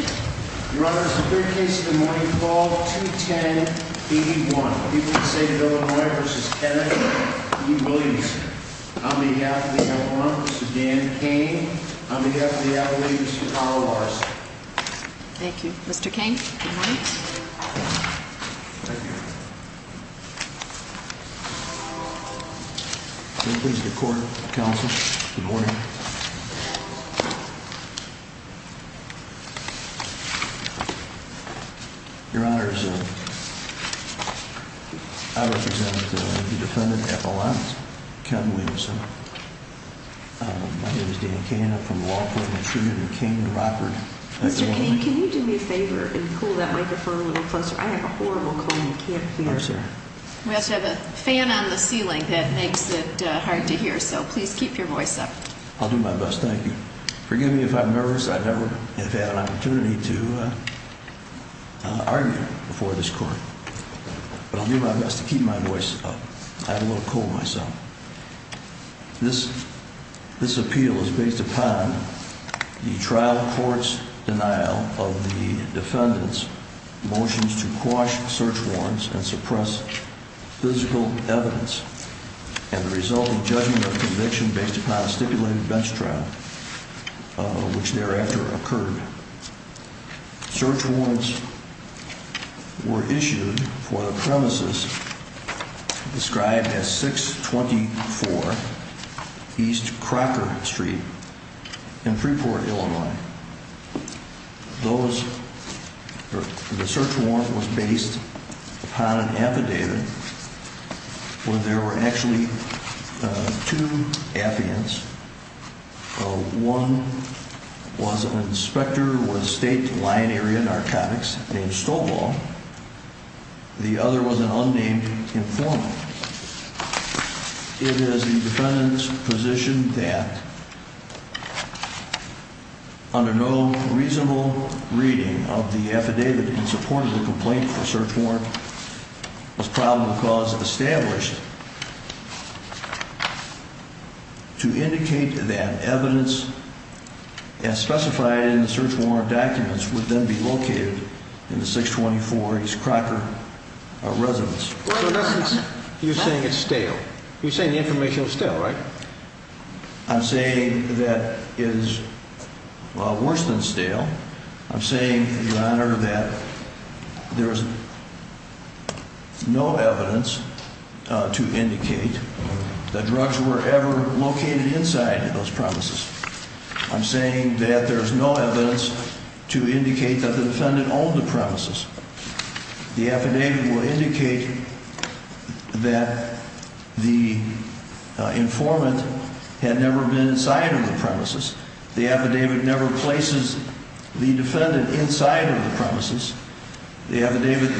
on behalf of the L-1, Mr. Dan Cain, on behalf of the L-1, Mr. Carl Larson. Thank you. Mr. Cain, good morning. Thank you. Good morning. Your Honor, I represent the defendant at L-1, Captain Williamson. My name is Dan Cain. I'm from the Law Court of Intrusion in Cayman Rockford. Mr. Cain, can you do me a favor and pull that microphone a little closer? I have a horrible cold and can't hear. We also have a fan on the ceiling that makes it hard to hear, so please keep your voice up. I'll do my best. Thank you. Forgive me if I'm nervous. I've never had an opportunity to argue before this court. But I'll do my best to keep my voice up. I have a little cold myself. This appeal is based upon the trial court's denial of the defendant's motions to quash search warrants and suppress physical evidence and the resulting judgment of conviction based upon a stipulated bench trial, which thereafter occurred. Search warrants were issued for the premises described as 624 East Crocker Street in Freeport, Illinois. The search warrant was based upon an affidavit where there were actually two affidavits. One was an inspector with State Line Area Narcotics named Stovall. The other was an unnamed informant. It is the defendant's position that under no reasonable reading of the affidavit in support of the complaint, the search warrant was probable cause of establishment to indicate that evidence as specified in the search warrant documents would then be located in the 624 East Crocker residence. So in essence, you're saying it's stale. You're saying the information is stale, right? I'm saying that it is worse than stale. I'm saying, Your Honor, that there's no evidence to indicate that drugs were ever located inside those premises. I'm saying that there's no evidence to indicate that the defendant owned the premises. The affidavit will indicate that the informant had never been inside of the premises. The affidavit never places the defendant inside of the premises. The affidavit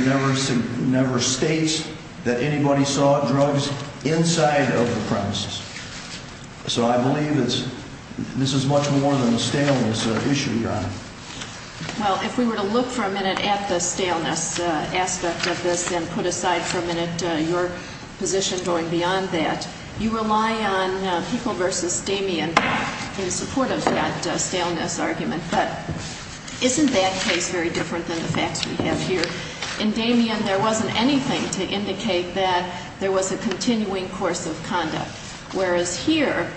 never states that anybody saw drugs inside of the premises. So I believe this is much more than a staleness issue, Your Honor. Well, if we were to look for a minute at the staleness aspect of this and put aside for a minute your position going beyond that, you rely on People v. Damien in support of that staleness argument. But isn't that case very different than the facts we have here? In Damien, there wasn't anything to indicate that there was a continuing course of conduct, whereas here,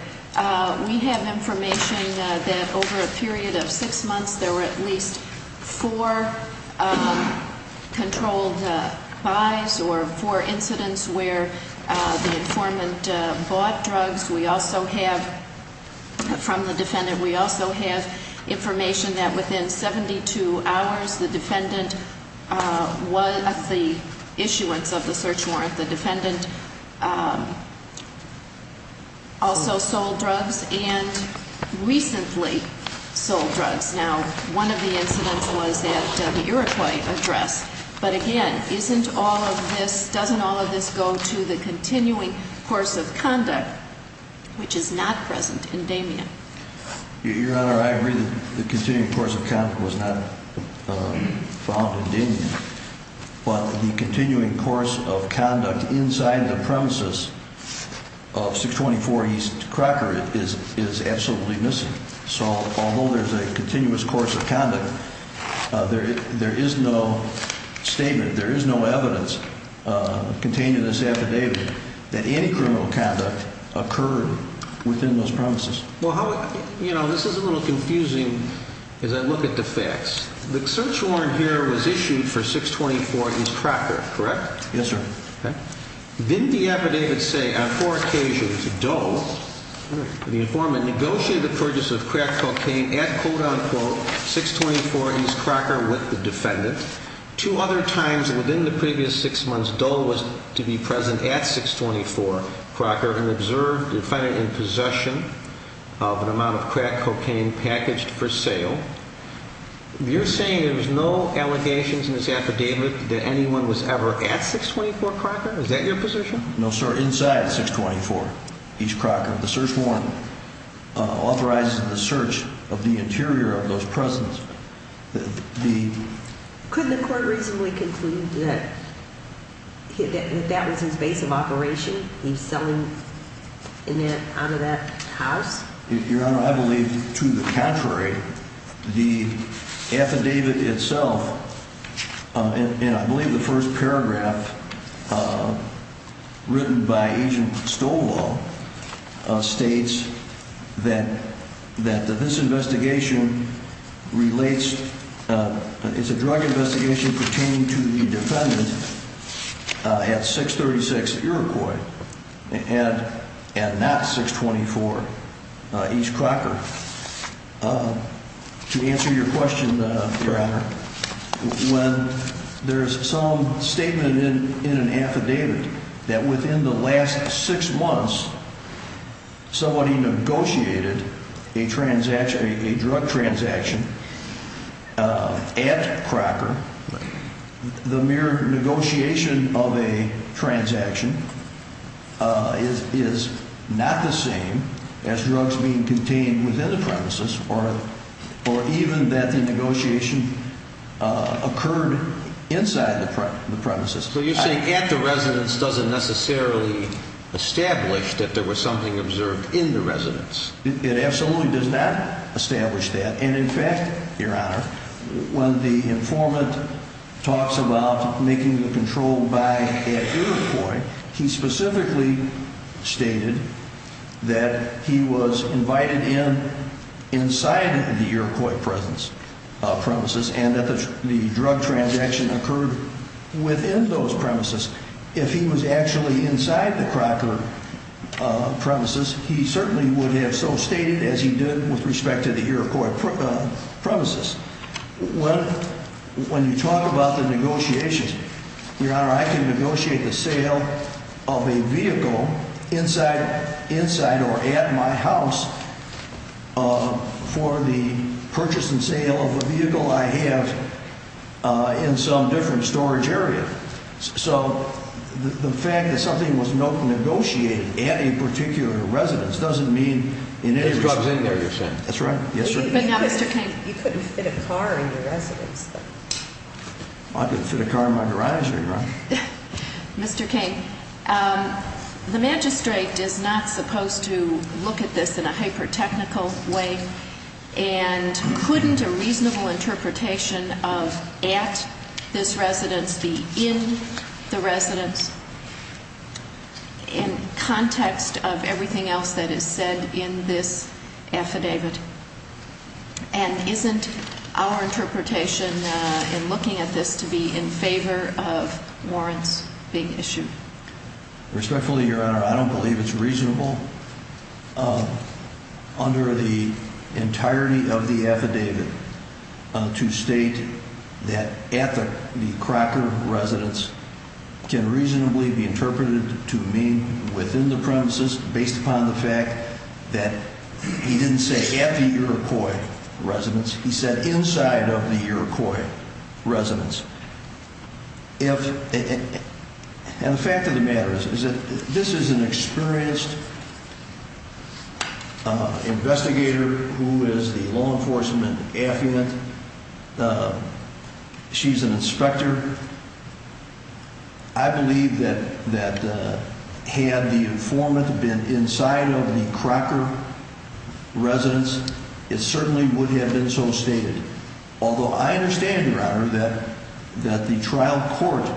we have information that over a period of six months, there were at least four controlled buys or four incidents where the informant bought drugs. We also have, from the defendant, we also have information that within 72 hours, the issuance of the search warrant, the defendant also sold drugs and recently sold drugs. Now, one of the incidents was at the Iroquois address. But again, isn't all of this, doesn't all of this go to the continuing course of conduct, which is not present in Damien? Your Honor, I agree that the continuing course of conduct was not found in Damien. But the continuing course of conduct inside the premises of 624 East Crocker is absolutely missing. So although there's a continuous course of conduct, there is no statement, there is no evidence contained in this affidavit that any criminal conduct occurred within those premises. Well, you know, this is a little confusing as I look at the facts. The search warrant here was issued for 624 East Crocker, correct? Yes, sir. Didn't the affidavit say on four occasions Dole, the informant, negotiated the purchase of crack cocaine at, quote-unquote, 624 East Crocker with the defendant? Two other times within the previous six months, Dole was to be present at 624 Crocker and observed the defendant in possession of an amount of crack cocaine packaged for sale. You're saying there was no allegations in this affidavit that anyone was ever at 624 Crocker? Is that your position? No, sir. Inside 624 East Crocker, the search warrant authorizes the search of the interior of those presences. Could the court reasonably conclude that that was his base of operation? He was selling out of that house? Your Honor, I believe to the contrary. The affidavit itself, and I believe the first paragraph written by Agent Stola, states that this investigation relates It's a drug investigation pertaining to the defendant at 636 Iroquois and not 624 East Crocker. To answer your question, Your Honor, when there's some statement in an affidavit that within the last six months somebody negotiated a drug transaction at Crocker, the mere negotiation of a transaction is not the same as drugs being contained within the premises or even that the negotiation occurred inside the premises. So you're saying at the residence doesn't necessarily establish that there was something observed in the residence? It absolutely does not establish that. And in fact, Your Honor, when the informant talks about making the control buy at Iroquois, he specifically stated that he was invited in inside the Iroquois premises and that the drug transaction occurred within those premises. If he was actually inside the Crocker premises, he certainly would have so stated as he did with respect to the Iroquois premises. When you talk about the negotiations, Your Honor, I can negotiate the sale of a vehicle inside or at my house for the purchase and sale of a vehicle I have in some different storage area. So the fact that something was negotiated at a particular residence doesn't mean in any respect... There's drugs in there, you're saying. That's right. Yes, sir. But now, Mr. King... You couldn't fit a car in your residence. I couldn't fit a car in my garage, Your Honor. Mr. King, the magistrate is not supposed to look at this in a hyper-technical way and couldn't a reasonable interpretation of at this residence be in the residence in context of everything else that is said in this affidavit? And isn't our interpretation in looking at this to be in favor of warrants being issued? Respectfully, Your Honor, I don't believe it's reasonable under the entirety of the affidavit to state that at the Crocker residence can reasonably be interpreted to mean within the premises based upon the fact that he didn't say at the Iroquois residence. He said inside of the Iroquois residence. And the fact of the matter is that this is an experienced investigator who is the law enforcement affidavit. She's an inspector. I believe that had the informant been inside of the Crocker residence, it certainly would have been so stated. Although I understand, Your Honor, that the trial court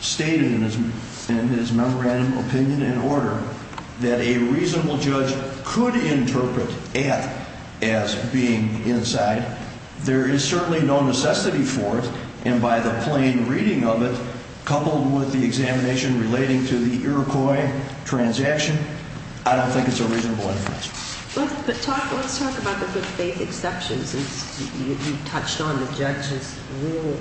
stated in his memorandum opinion and order that a reasonable judge could interpret at as being inside. There is certainly no necessity for it. And by the plain reading of it, coupled with the examination relating to the Iroquois transaction, I don't think it's a reasonable inference. Let's talk about the good faith exceptions. You touched on the judge's rule.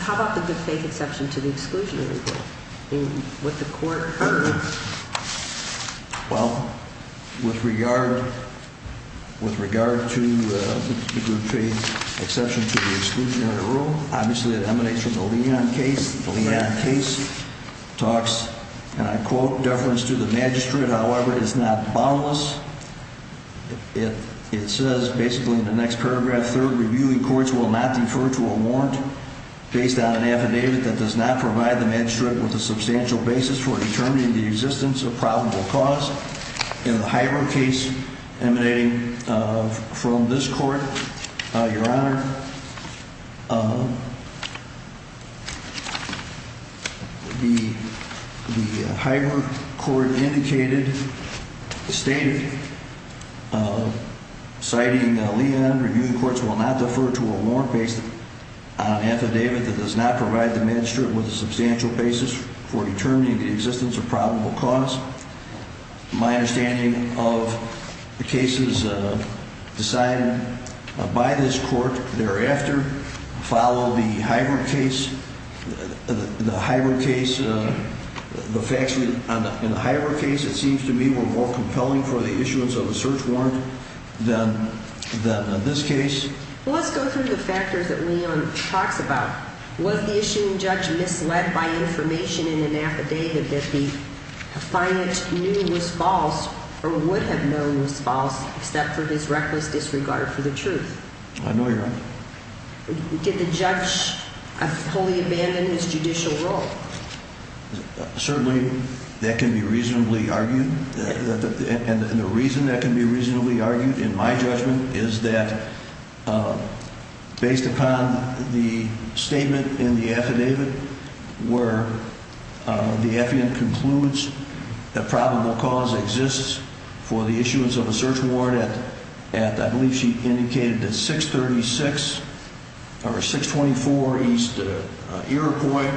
How about the good faith exception to the exclusionary rule? What the court heard? Well, with regard to the good faith exception to the exclusionary rule, obviously it emanates from the Leon case. The Leon case talks, and I quote, deference to the magistrate. However, it is not boundless. It says basically in the next paragraph, third, reviewing courts will not defer to a warrant based on an affidavit that does not provide the magistrate with a substantial basis for determining the existence of probable cause. In the Hiber case emanating from this court, Your Honor, the Hiber court indicated, stated, citing Leon, reviewing courts will not defer to a warrant based on an affidavit that does not provide the magistrate with a substantial basis for determining the existence of probable cause. My understanding of the cases decided by this court thereafter follow the Hiber case. The facts in the Hiber case, it seems to me, were more compelling for the issuance of a search warrant than this case. Well, let's go through the factors that Leon talks about. Was the issuing judge misled by information in an affidavit that the defendant knew was false or would have known was false except for his reckless disregard for the truth? I know, Your Honor. Did the judge fully abandon his judicial role? Certainly, that can be reasonably argued. And the reason that can be reasonably argued in my judgment is that based upon the statement in the affidavit where the affidavit concludes that probable cause exists for the issuance of a search warrant at, I believe she indicated, 636 or 624 East Iroquois.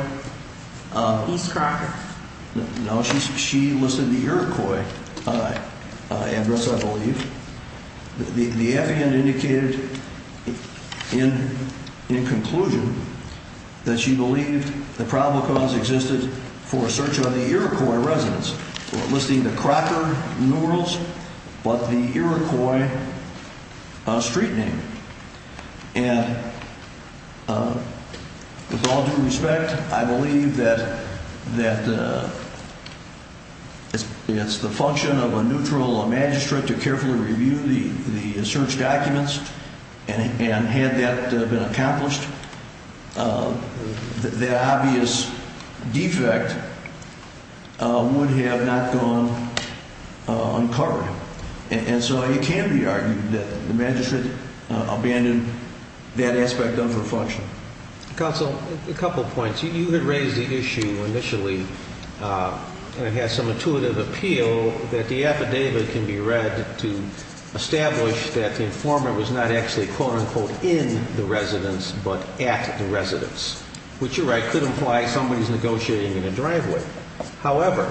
East Crockett. No, she listed the Iroquois address, I believe. The affidavit indicated in conclusion that she believed the probable cause existed for a search on the Iroquois residence, listing the Crocker numerals but the Iroquois street name. And with all due respect, I believe that it's the function of a neutral magistrate to carefully review the search documents. And had that been accomplished, the obvious defect would have not gone uncovered. And so it can be argued that the magistrate abandoned that aspect of her function. Counsel, a couple points. You had raised the issue initially and had some intuitive appeal that the affidavit can be read to establish that the informant was not actually, quote-unquote, in the residence but at the residence, which you're right, could imply somebody's negotiating in a driveway. However,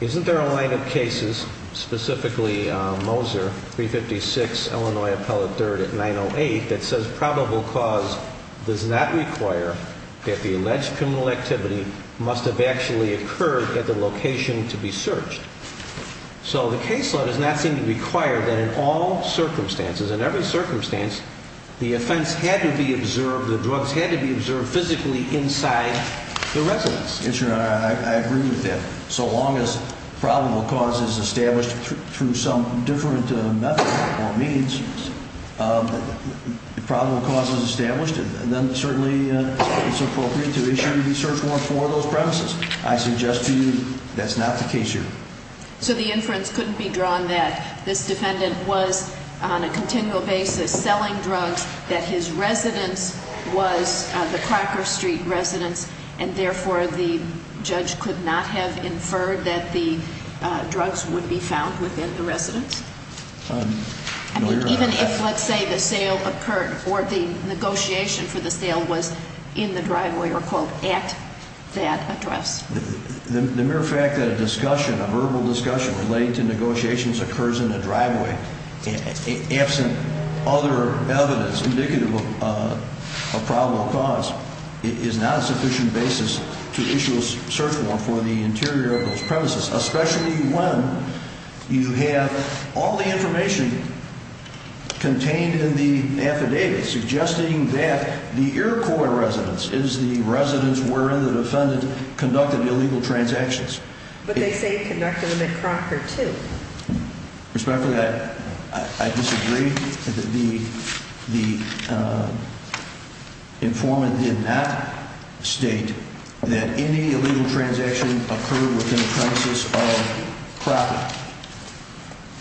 isn't there a line of cases, specifically Moser, 356 Illinois Appellate 3rd at 908, that says probable cause does not require that the alleged criminal activity must have actually occurred at the location to be searched? So the case law does not seem to require that in all circumstances, in every circumstance, the offense had to be observed, the drugs had to be observed physically inside the residence. Yes, Your Honor, I agree with that. So long as probable cause is established through some different method or means, if probable cause is established, then certainly it's appropriate to issue the search warrant for those premises. I suggest to you that's not the case here. So the inference couldn't be drawn that this defendant was on a continual basis selling drugs, that his residence was the Crocker Street residence, and therefore the judge could not have inferred that the drugs would be found within the residence? No, Your Honor. Even if, let's say, the sale occurred or the negotiation for the sale was in the driveway or, quote, at that address? The mere fact that a discussion, a verbal discussion relating to negotiations occurs in the driveway, absent other evidence indicative of probable cause, is not a sufficient basis to issue a search warrant for the interior of those premises, especially when you have all the information contained in the affidavit suggesting that the Iroquois residence is the residence where the defendant conducted illegal transactions. But they say he conducted them at Crocker, too. Respectfully, I disagree. The informant did not state that any illegal transaction occurred within the premises of Crocker.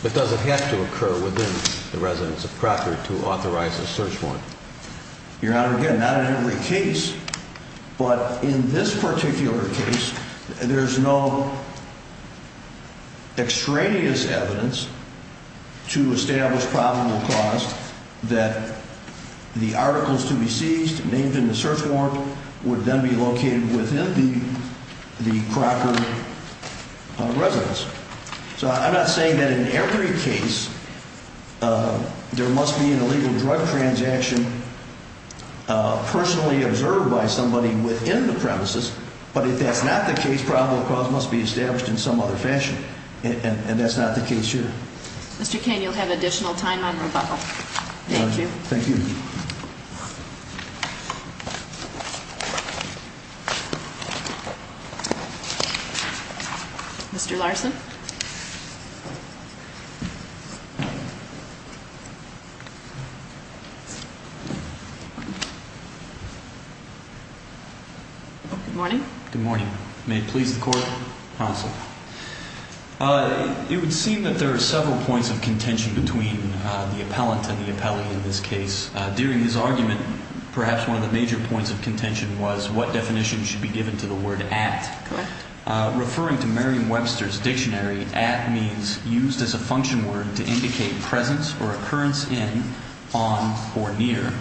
But does it have to occur within the residence of Crocker to authorize a search warrant? Your Honor, again, not in every case. But in this particular case, there's no extraneous evidence to establish probable cause that the articles to be seized, named in the search warrant, would then be located within the Crocker residence. So I'm not saying that in every case there must be an illegal drug transaction personally observed by somebody within the premises. But if that's not the case, probable cause must be established in some other fashion. And that's not the case here. Mr. Kane, you'll have additional time on rebuttal. Thank you. Thank you. Thank you. Mr. Larson. Good morning. Good morning. May it please the Court. It would seem that there are several points of contention between the appellant and the appellee in this case. During his argument, perhaps one of the major points of contention was what definition should be given to the word at. Correct. Referring to Merriam-Webster's dictionary, at means used as a function word to indicate presence or occurrence in, on, or near.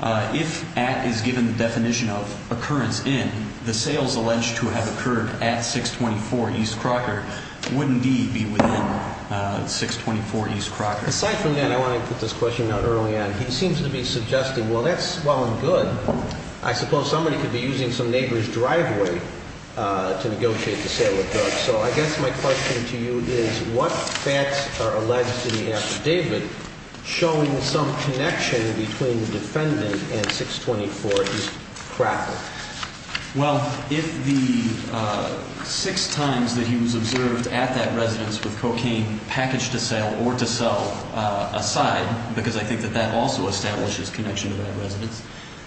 If at is given the definition of occurrence in, the sales alleged to have occurred at 624 East Crocker would indeed be within 624 East Crocker. Aside from that, I want to put this question out early on. He seems to be suggesting, well, that's well and good. I suppose somebody could be using some neighbor's driveway to negotiate the sale of drugs. So I guess my question to you is what facts are alleged in the affidavit showing some connection between the defendant and 624 East Crocker? Well, if the six times that he was observed at that residence with cocaine packaged to sale or to sell aside, because I think that that also establishes connection to that residence,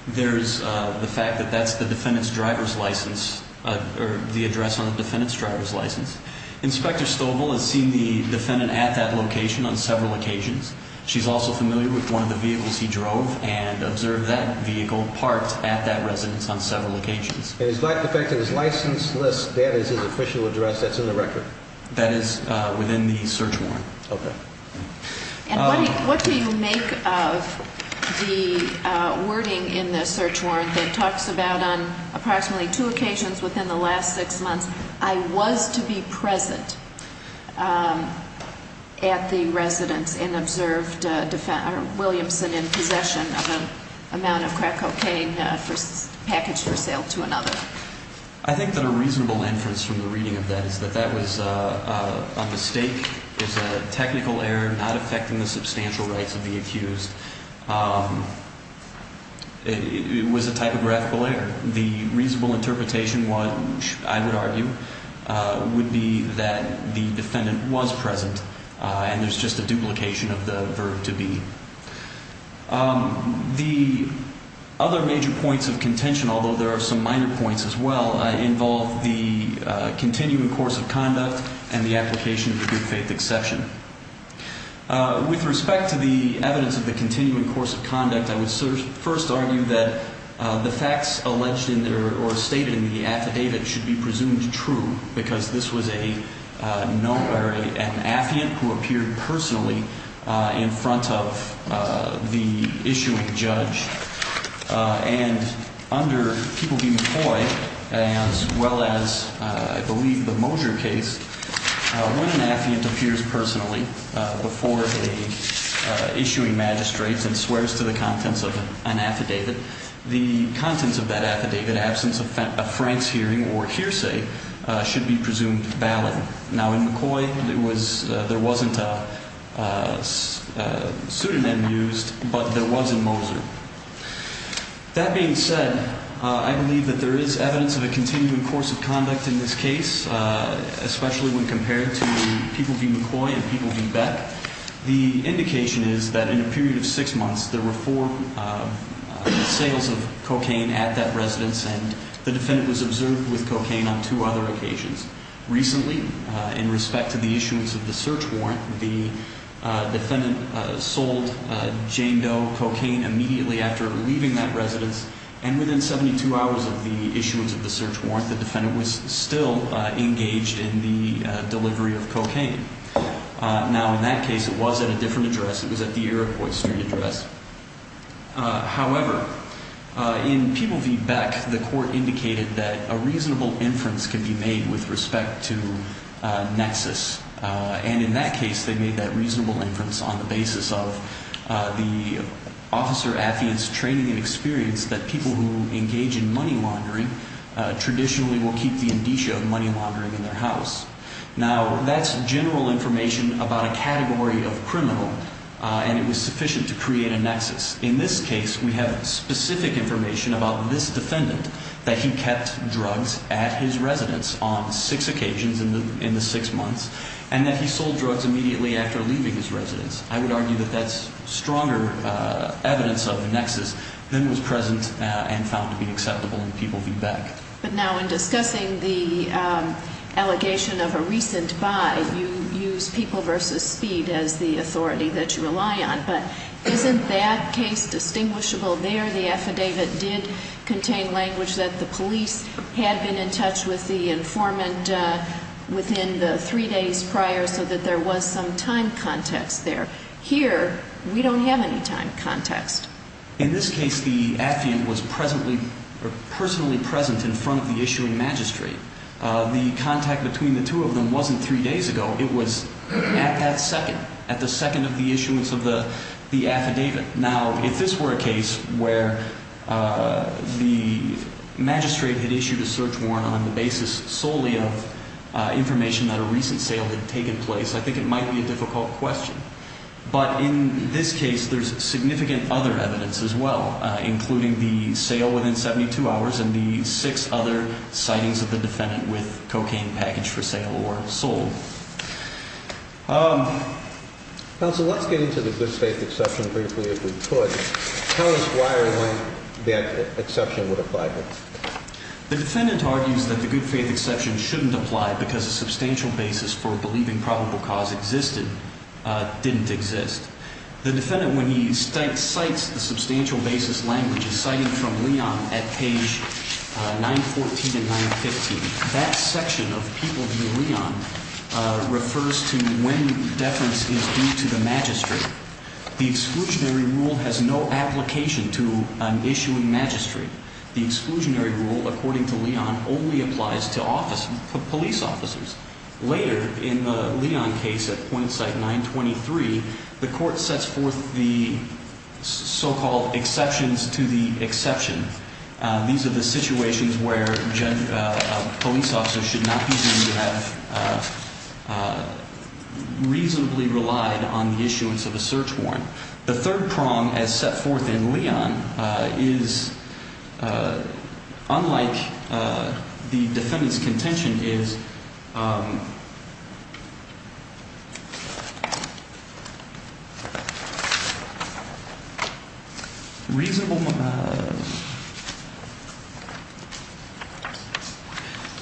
there's the fact that that's the defendant's driver's license, or the address on the defendant's driver's license. Inspector Stovall has seen the defendant at that location on several occasions. She's also familiar with one of the vehicles he drove and observed that vehicle parked at that residence on several occasions. And despite the fact that his license list, that is his official address, that's in the record? That is within the search warrant. Okay. And what do you make of the wording in the search warrant that talks about on approximately two occasions within the last six months, I was to be present at the residence and observed Williamson in possession of an amount of crack cocaine packaged for sale to another? I think that a reasonable inference from the reading of that is that that was a mistake. It's a technical error not affecting the substantial rights of the accused. It was a typographical error. The reasonable interpretation, I would argue, would be that the defendant was present, and there's just a duplication of the verb to be. The other major points of contention, although there are some minor points as well, involve the continuing course of conduct and the application of the good faith exception. With respect to the evidence of the continuing course of conduct, I would first argue that the facts alleged or stated in the affidavit should be presumed true, because this was an affiant who appeared personally in front of the issuing judge. And under People v. McCoy, as well as, I believe, the Mosier case, when an affiant appears personally before the issuing magistrates and swears to the contents of an affidavit, the contents of that affidavit, absence of Frank's hearing or hearsay, should be presumed valid. Now, in McCoy, there wasn't a pseudonym used, but there was in Mosier. That being said, I believe that there is evidence of a continuing course of conduct in this case, especially when compared to People v. McCoy and People v. Beck. The indication is that in a period of six months, there were four sales of cocaine at that residence, and the defendant was observed with cocaine on two other occasions. Recently, in respect to the issuance of the search warrant, the defendant sold Jane Doe cocaine immediately after leaving that residence, and within 72 hours of the issuance of the search warrant, the defendant was still engaged in the delivery of cocaine. Now, in that case, it was at a different address. It was at the Iroquois Street address. However, in People v. Beck, the court indicated that a reasonable inference can be made with respect to nexus, and in that case, they made that reasonable inference on the basis of the officer affiant's training and experience that people who engage in money laundering traditionally will keep the indicia of money laundering in their house. Now, that's general information about a category of criminal, and it was sufficient to create a nexus. In this case, we have specific information about this defendant, that he kept drugs at his residence on six occasions in the six months, and that he sold drugs immediately after leaving his residence. I would argue that that's stronger evidence of nexus than was present and found to be acceptable in People v. Beck. But now, in discussing the allegation of a recent buy, you use People v. Speed as the authority that you rely on, but isn't that case distinguishable there? The affidavit did contain language that the police had been in touch with the informant within the three days prior so that there was some time context there. Here, we don't have any time context. In this case, the affiant was personally present in front of the issuing magistrate. The contact between the two of them wasn't three days ago. It was at that second, at the second of the issuance of the affidavit. Now, if this were a case where the magistrate had issued a search warrant on the basis solely of information that a recent sale had taken place, I think it might be a difficult question. But in this case, there's significant other evidence as well, including the sale within 72 hours and the six other sightings of the defendant with cocaine packaged for sale or sold. Counsel, let's get into the good faith exception briefly if we could. Tell us why or when that exception would apply here. The defendant argues that the good faith exception shouldn't apply because a substantial basis for believing probable cause existed. It didn't exist. The defendant, when he cites the substantial basis language, is citing from Leon at page 914 and 915. That section of People v. Leon refers to when deference is due to the magistrate. The exclusionary rule has no application to an issuing magistrate. The exclusionary rule, according to Leon, only applies to police officers. Later, in the Leon case at point site 923, the court sets forth the so-called exceptions to the exception. These are the situations where police officers should not be deemed to have reasonably relied on the issuance of a search warrant. The third prong, as set forth in Leon, is unlike the defendant's contention, is reasonable.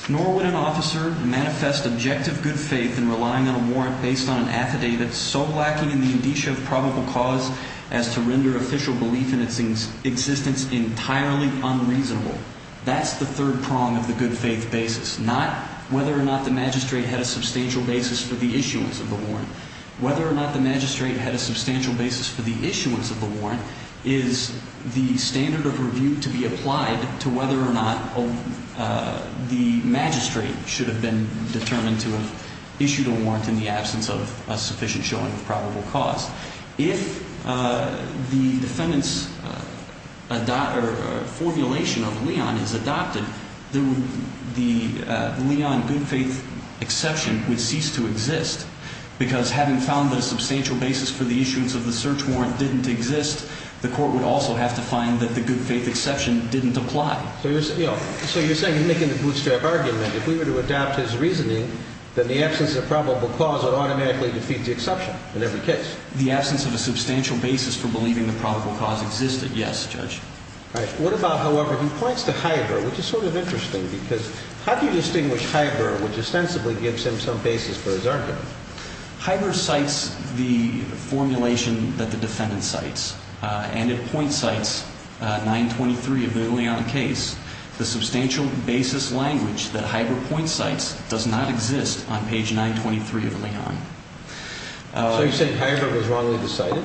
Nor would an officer manifest objective good faith in relying on a warrant based on an affidavit so lacking in the indicia of probable cause as to render official belief in its existence entirely unreasonable. That's the third prong of the good faith basis, not whether or not the magistrate had a substantial basis for the issuance of the warrant. The third prong is the standard of review to be applied to whether or not the magistrate should have been determined to have issued a warrant in the absence of a sufficient showing of probable cause. If the defendant's formulation of Leon is adopted, the Leon good faith exception would cease to exist because having found that a substantial basis for the issuance of the search warrant didn't exist, the court would also have to find that the good faith exception didn't apply. So you're saying in making the bootstrap argument, if we were to adopt his reasoning, then the absence of probable cause would automatically defeat the exception in every case? The absence of a substantial basis for believing the probable cause existed, yes, Judge. All right. What about, however, he points to Hieber, which is sort of interesting because how do you distinguish Hieber, which ostensibly gives him some basis for his argument? Hieber cites the formulation that the defendant cites, and it point cites 923 of the Leon case, the substantial basis language that Hieber point cites does not exist on page 923 of Leon. So you're saying Hieber was wrongly decided?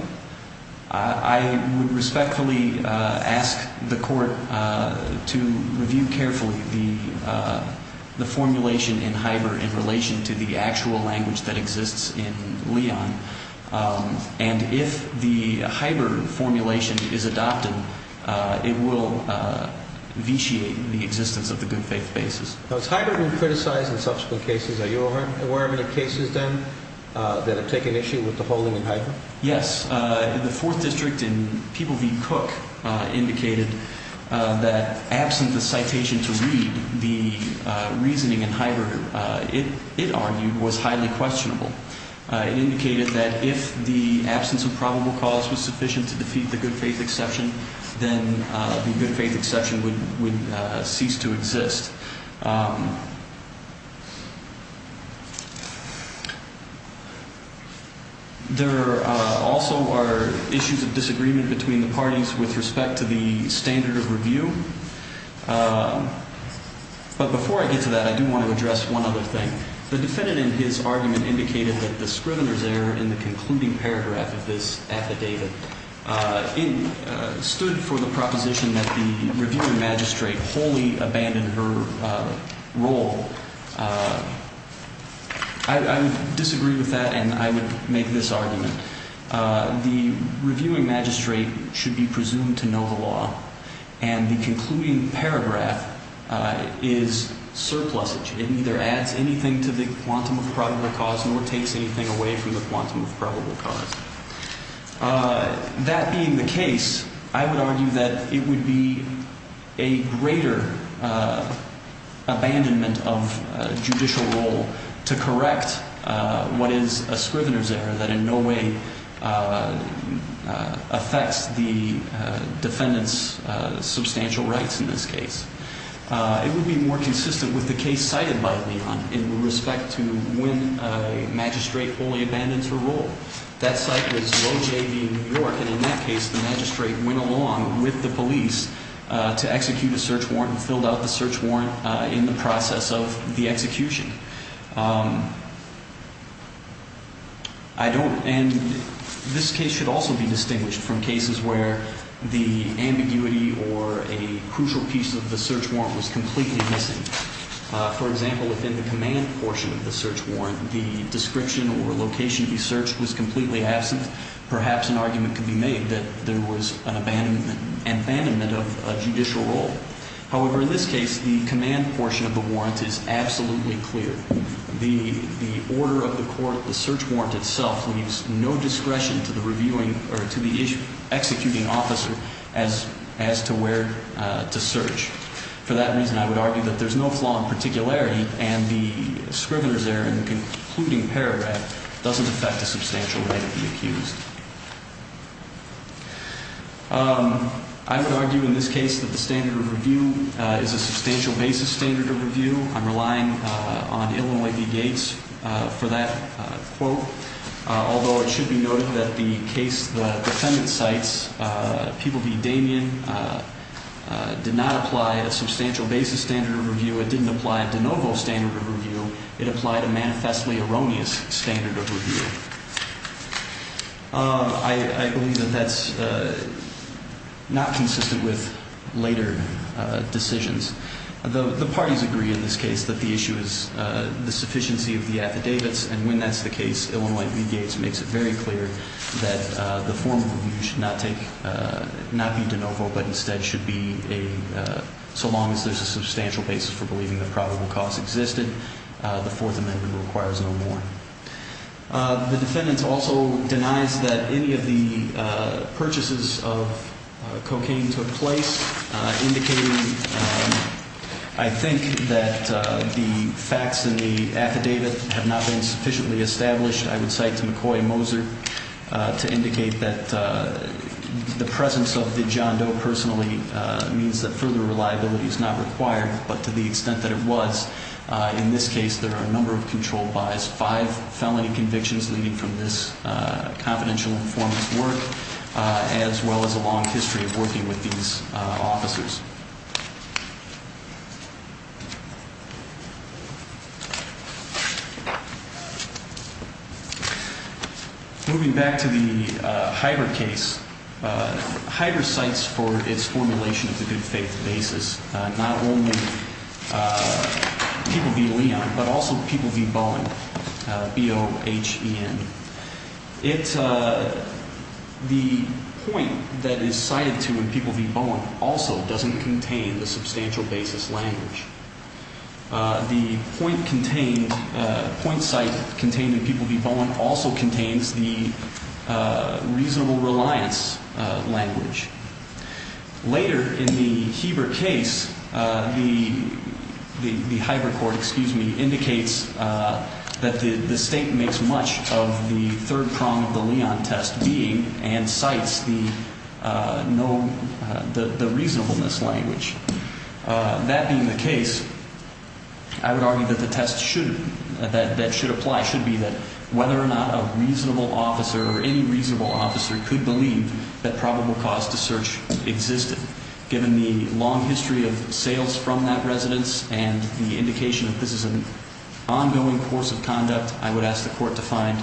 I would respectfully ask the court to review carefully the formulation in Hieber in relation to the actual language that exists in Leon. And if the Hieber formulation is adopted, it will vitiate the existence of the good faith basis. Now, is Hieber being criticized in subsequent cases? Are you aware of any cases, then, that have taken issue with the holding in Hieber? Yes. The Fourth District in People v. Cook indicated that absent the citation to read, the reasoning in Hieber, it argued, was highly questionable. It indicated that if the absence of probable cause was sufficient to defeat the good faith exception, then the good faith exception would cease to exist. There also are issues of disagreement between the parties with respect to the standard of review. But before I get to that, I do want to address one other thing. The defendant in his argument indicated that the scrivener's error in the concluding paragraph of this affidavit stood for the proposition that the reviewing magistrate wholly abandoned her role. I disagree with that, and I would make this argument. The reviewing magistrate should be presumed to know the law, and the concluding paragraph is surplusage. It neither adds anything to the quantum of probable cause nor takes anything away from the quantum of probable cause. That being the case, I would argue that it would be a greater abandonment of judicial role to correct what is a scrivener's error that in no way affects the defendant's substantial rights in this case. It would be more consistent with the case cited by Leon in respect to when a magistrate wholly abandons her role. That site was Low JV, New York, and in that case the magistrate went along with the police to execute a search warrant and filled out the search warrant in the process of the execution. I don't, and this case should also be distinguished from cases where the ambiguity or a crucial piece of the search warrant was completely missing. For example, within the command portion of the search warrant, the description or location he searched was completely absent. Perhaps an argument could be made that there was an abandonment of judicial role. However, in this case, the command portion of the warrant is absolutely clear. The order of the court, the search warrant itself, leaves no discretion to the reviewing or to the executing officer as to where to search. For that reason, I would argue that there's no flaw in particularity, and the scrivener's error in the concluding paragraph doesn't affect the substantial right of the accused. I would argue in this case that the standard of review is a substantial basis standard of review. I'm relying on Illinois v. Gates for that quote, although it should be noted that the case the defendant cites, People v. Damien, did not apply a substantial basis standard of review. It didn't apply a de novo standard of review. It applied a manifestly erroneous standard of review. I believe that that's not consistent with later decisions. The parties agree in this case that the issue is the sufficiency of the affidavits, and when that's the case, Illinois v. Gates makes it very clear that the formal review should not be de novo, but instead should be a, so long as there's a substantial basis for believing that probable cause existed, the Fourth Amendment requires no more. The defendant also denies that any of the purchases of cocaine took place, indicating, I think, that the facts in the affidavit have not been sufficiently established. I would cite to McCoy and Moser to indicate that the presence of the John Doe personally means that further reliability is not required, but to the extent that it was. In this case, there are a number of control bias, five felony convictions leading from this confidential informant's work, as well as a long history of working with these officers. Moving back to the Hyder case, Hyder cites for its formulation of the good faith basis not only people v. Leon, but also people v. Bowen, B-O-H-E-N. The point that is cited to in people v. Bowen also doesn't contain the substantial basis language. The point site contained in people v. Bowen also contains the reasonable reliance language. Later in the Heber case, the Hyder court indicates that the state makes much of the third prong of the Leon test being and cites the reasonableness language. That being the case, I would argue that the test that should apply should be that whether or not a reasonable officer or any reasonable officer could believe that probable cause to search existed. Given the long history of sales from that residence and the indication that this is an ongoing course of conduct, I would ask the court to find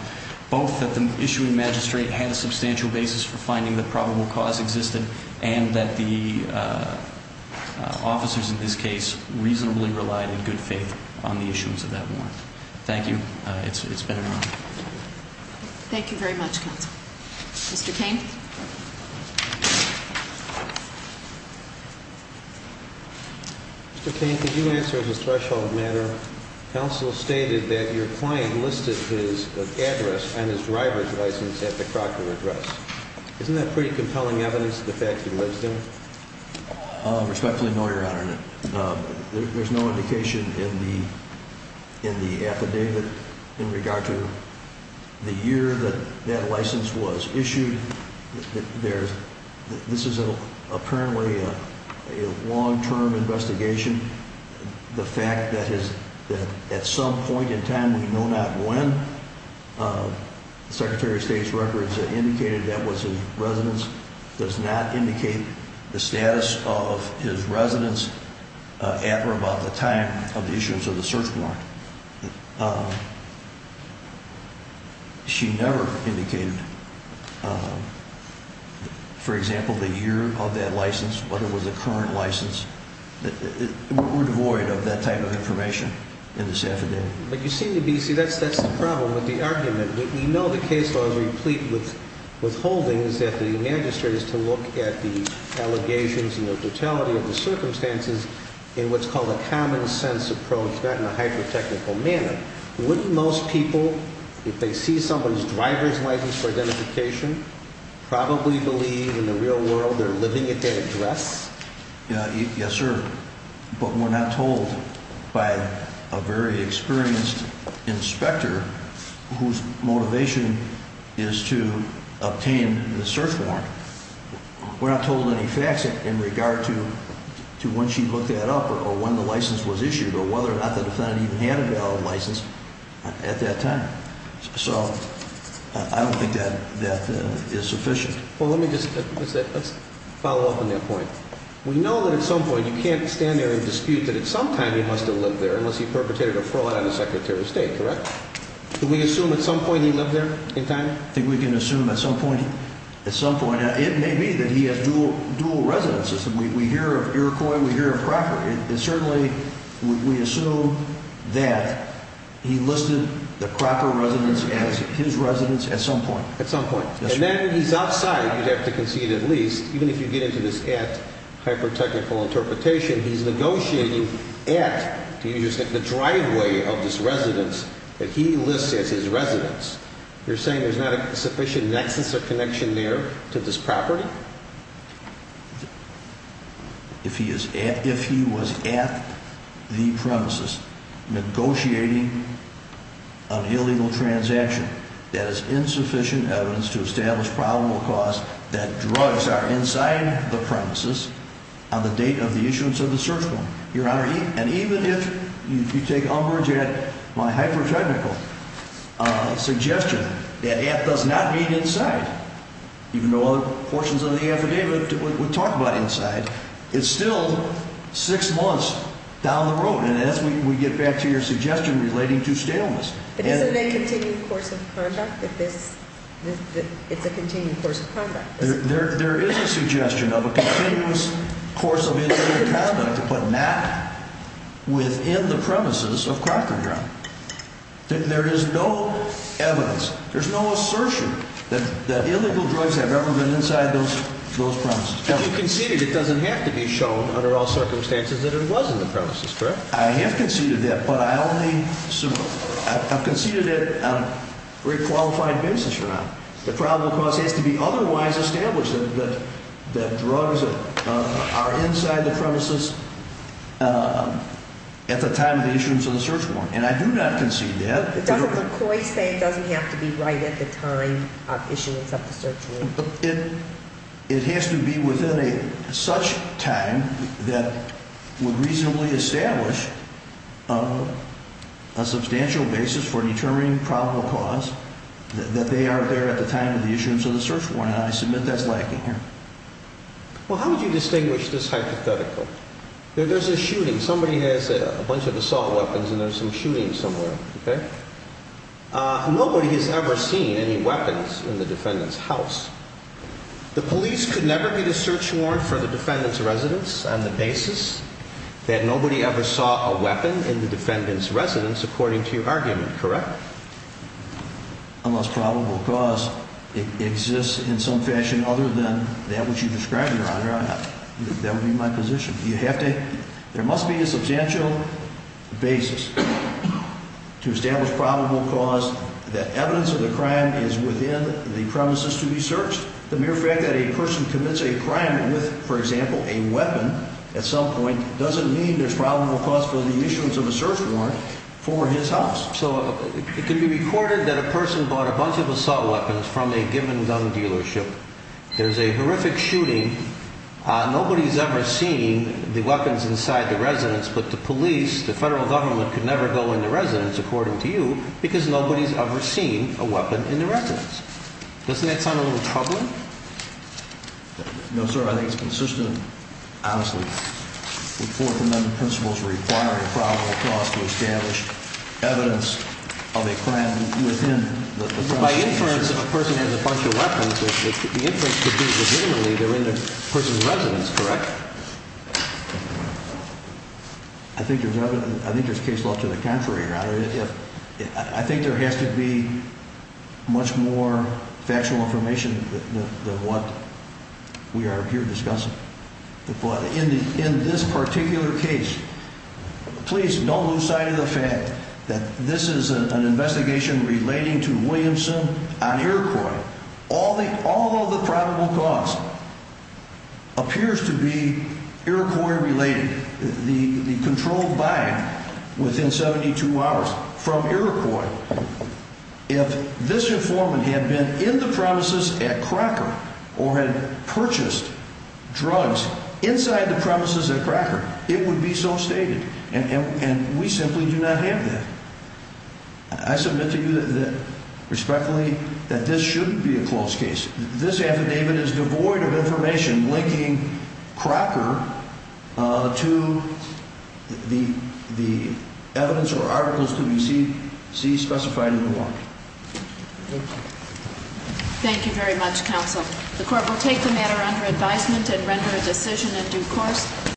both that the issuing magistrate had a substantial basis for finding that probable cause existed and that the officers in this case reasonably relied in good faith on the issuance of that warrant. Thank you. It's been an honor. Thank you very much, counsel. Mr. Cain? Mr. Cain, could you answer as a threshold matter? Counsel stated that your client listed his address and his driver's license at the Crocker address. Isn't that pretty compelling evidence of the fact that he lives there? Respectfully, no, Your Honor. There's no indication in the affidavit in regard to the year that that license was issued. This is apparently a long-term investigation. The fact that at some point in time, we know not when, the Secretary of State's records indicated that was his residence does not indicate the status of his residence at or about the time of the issuance of the search warrant. She never indicated, for example, the year of that license, whether it was a current license. We're devoid of that type of information in this affidavit. That's the problem with the argument. We know the case law is replete with holdings that the magistrate is to look at the allegations and the totality of the circumstances in what's called a common-sense approach, not in a hyper-technical manner. Wouldn't most people, if they see someone's driver's license for identification, probably believe in the real world they're living at that address? Yes, sir. But we're not told by a very experienced inspector whose motivation is to obtain the search warrant. We're not told any facts in regard to when she looked that up or when the license was issued or whether or not the defendant even had a valid license at that time. So I don't think that is sufficient. Well, let me just follow up on that point. We know that at some point you can't stand there and dispute that at some time he must have lived there unless he perpetrated a fraud on the Secretary of State, correct? Can we assume at some point he lived there in time? I think we can assume at some point. At some point. It may be that he has dual residences. We hear of Iroquois and we hear of Crocker. It certainly, we assume that he listed the Crocker residence as his residence at some point. At some point. And then he's outside, you'd have to concede at least, even if you get into this at hyper-technical interpretation, he's negotiating at the driveway of this residence that he lists as his residence. You're saying there's not a sufficient nexus or connection there to this property? If he was at the premises negotiating an illegal transaction, that is insufficient evidence to establish probable cause that drugs are inside the premises on the date of the issuance of the search warrant. Your Honor, and even if you take umbrage at my hyper-technical suggestion that it does not meet inside, even though other portions of the affidavit would talk about inside, it's still six months down the road. And as we get back to your suggestion relating to staleness. But isn't a continued course of conduct that this, it's a continued course of conduct? There is a suggestion of a continuous course of illegal conduct, but not within the premises of Crocker Drug. There is no evidence, there's no assertion that illegal drugs have ever been inside those premises. You conceded it doesn't have to be shown under all circumstances that it was in the premises, correct? I have conceded that, but I only, I've conceded it on a very qualified basis, Your Honor. The probable cause has to be otherwise established that drugs are inside the premises at the time of the issuance of the search warrant. And I do not concede that. Doesn't McCoy say it doesn't have to be right at the time of issuance of the search warrant? It has to be within a such time that would reasonably establish a substantial basis for determining probable cause that they are there at the time of the issuance of the search warrant. And I submit that's lacking here. Well, how would you distinguish this hypothetical? There's a shooting. Somebody has a bunch of assault weapons and there's some shooting somewhere, okay? Nobody has ever seen any weapons in the defendant's house. The police could never get a search warrant for the defendant's residence on the basis that nobody ever saw a weapon in the defendant's residence, according to your argument, correct? Unless probable cause exists in some fashion other than that which you describe, Your Honor, that would be my position. There must be a substantial basis to establish probable cause that evidence of the crime is within the premises to be searched. The mere fact that a person commits a crime with, for example, a weapon at some point doesn't mean there's probable cause for the issuance of a search warrant for his house. So it can be recorded that a person bought a bunch of assault weapons from a given gun dealership. There's a horrific shooting. Nobody's ever seen the weapons inside the residence, but the police, the federal government, could never go in the residence, according to you, because nobody's ever seen a weapon in the residence. Doesn't that sound a little troubling? No, sir. I think it's consistent, honestly, with Fourth Amendment principles requiring probable cause to establish evidence of a crime within the premises. By inference, if a person has a bunch of weapons, the inference could be legitimately they're in the person's residence, correct? I think there's case law to the contrary, Your Honor. I think there has to be much more factual information than what we are here discussing. In this particular case, please don't lose sight of the fact that this is an investigation relating to Williamson on Iroquois. All of the probable cause appears to be Iroquois-related, the controlled buy-in within 72 hours from Iroquois. If this informant had been in the premises at Crocker or had purchased drugs inside the premises at Crocker, it would be so stated, and we simply do not have that. I submit to you respectfully that this shouldn't be a close case. This affidavit is devoid of information linking Crocker to the evidence or articles to be seen, see, specified in the warrant. Thank you very much, counsel. The court will take the matter under advisement and render a decision in due course.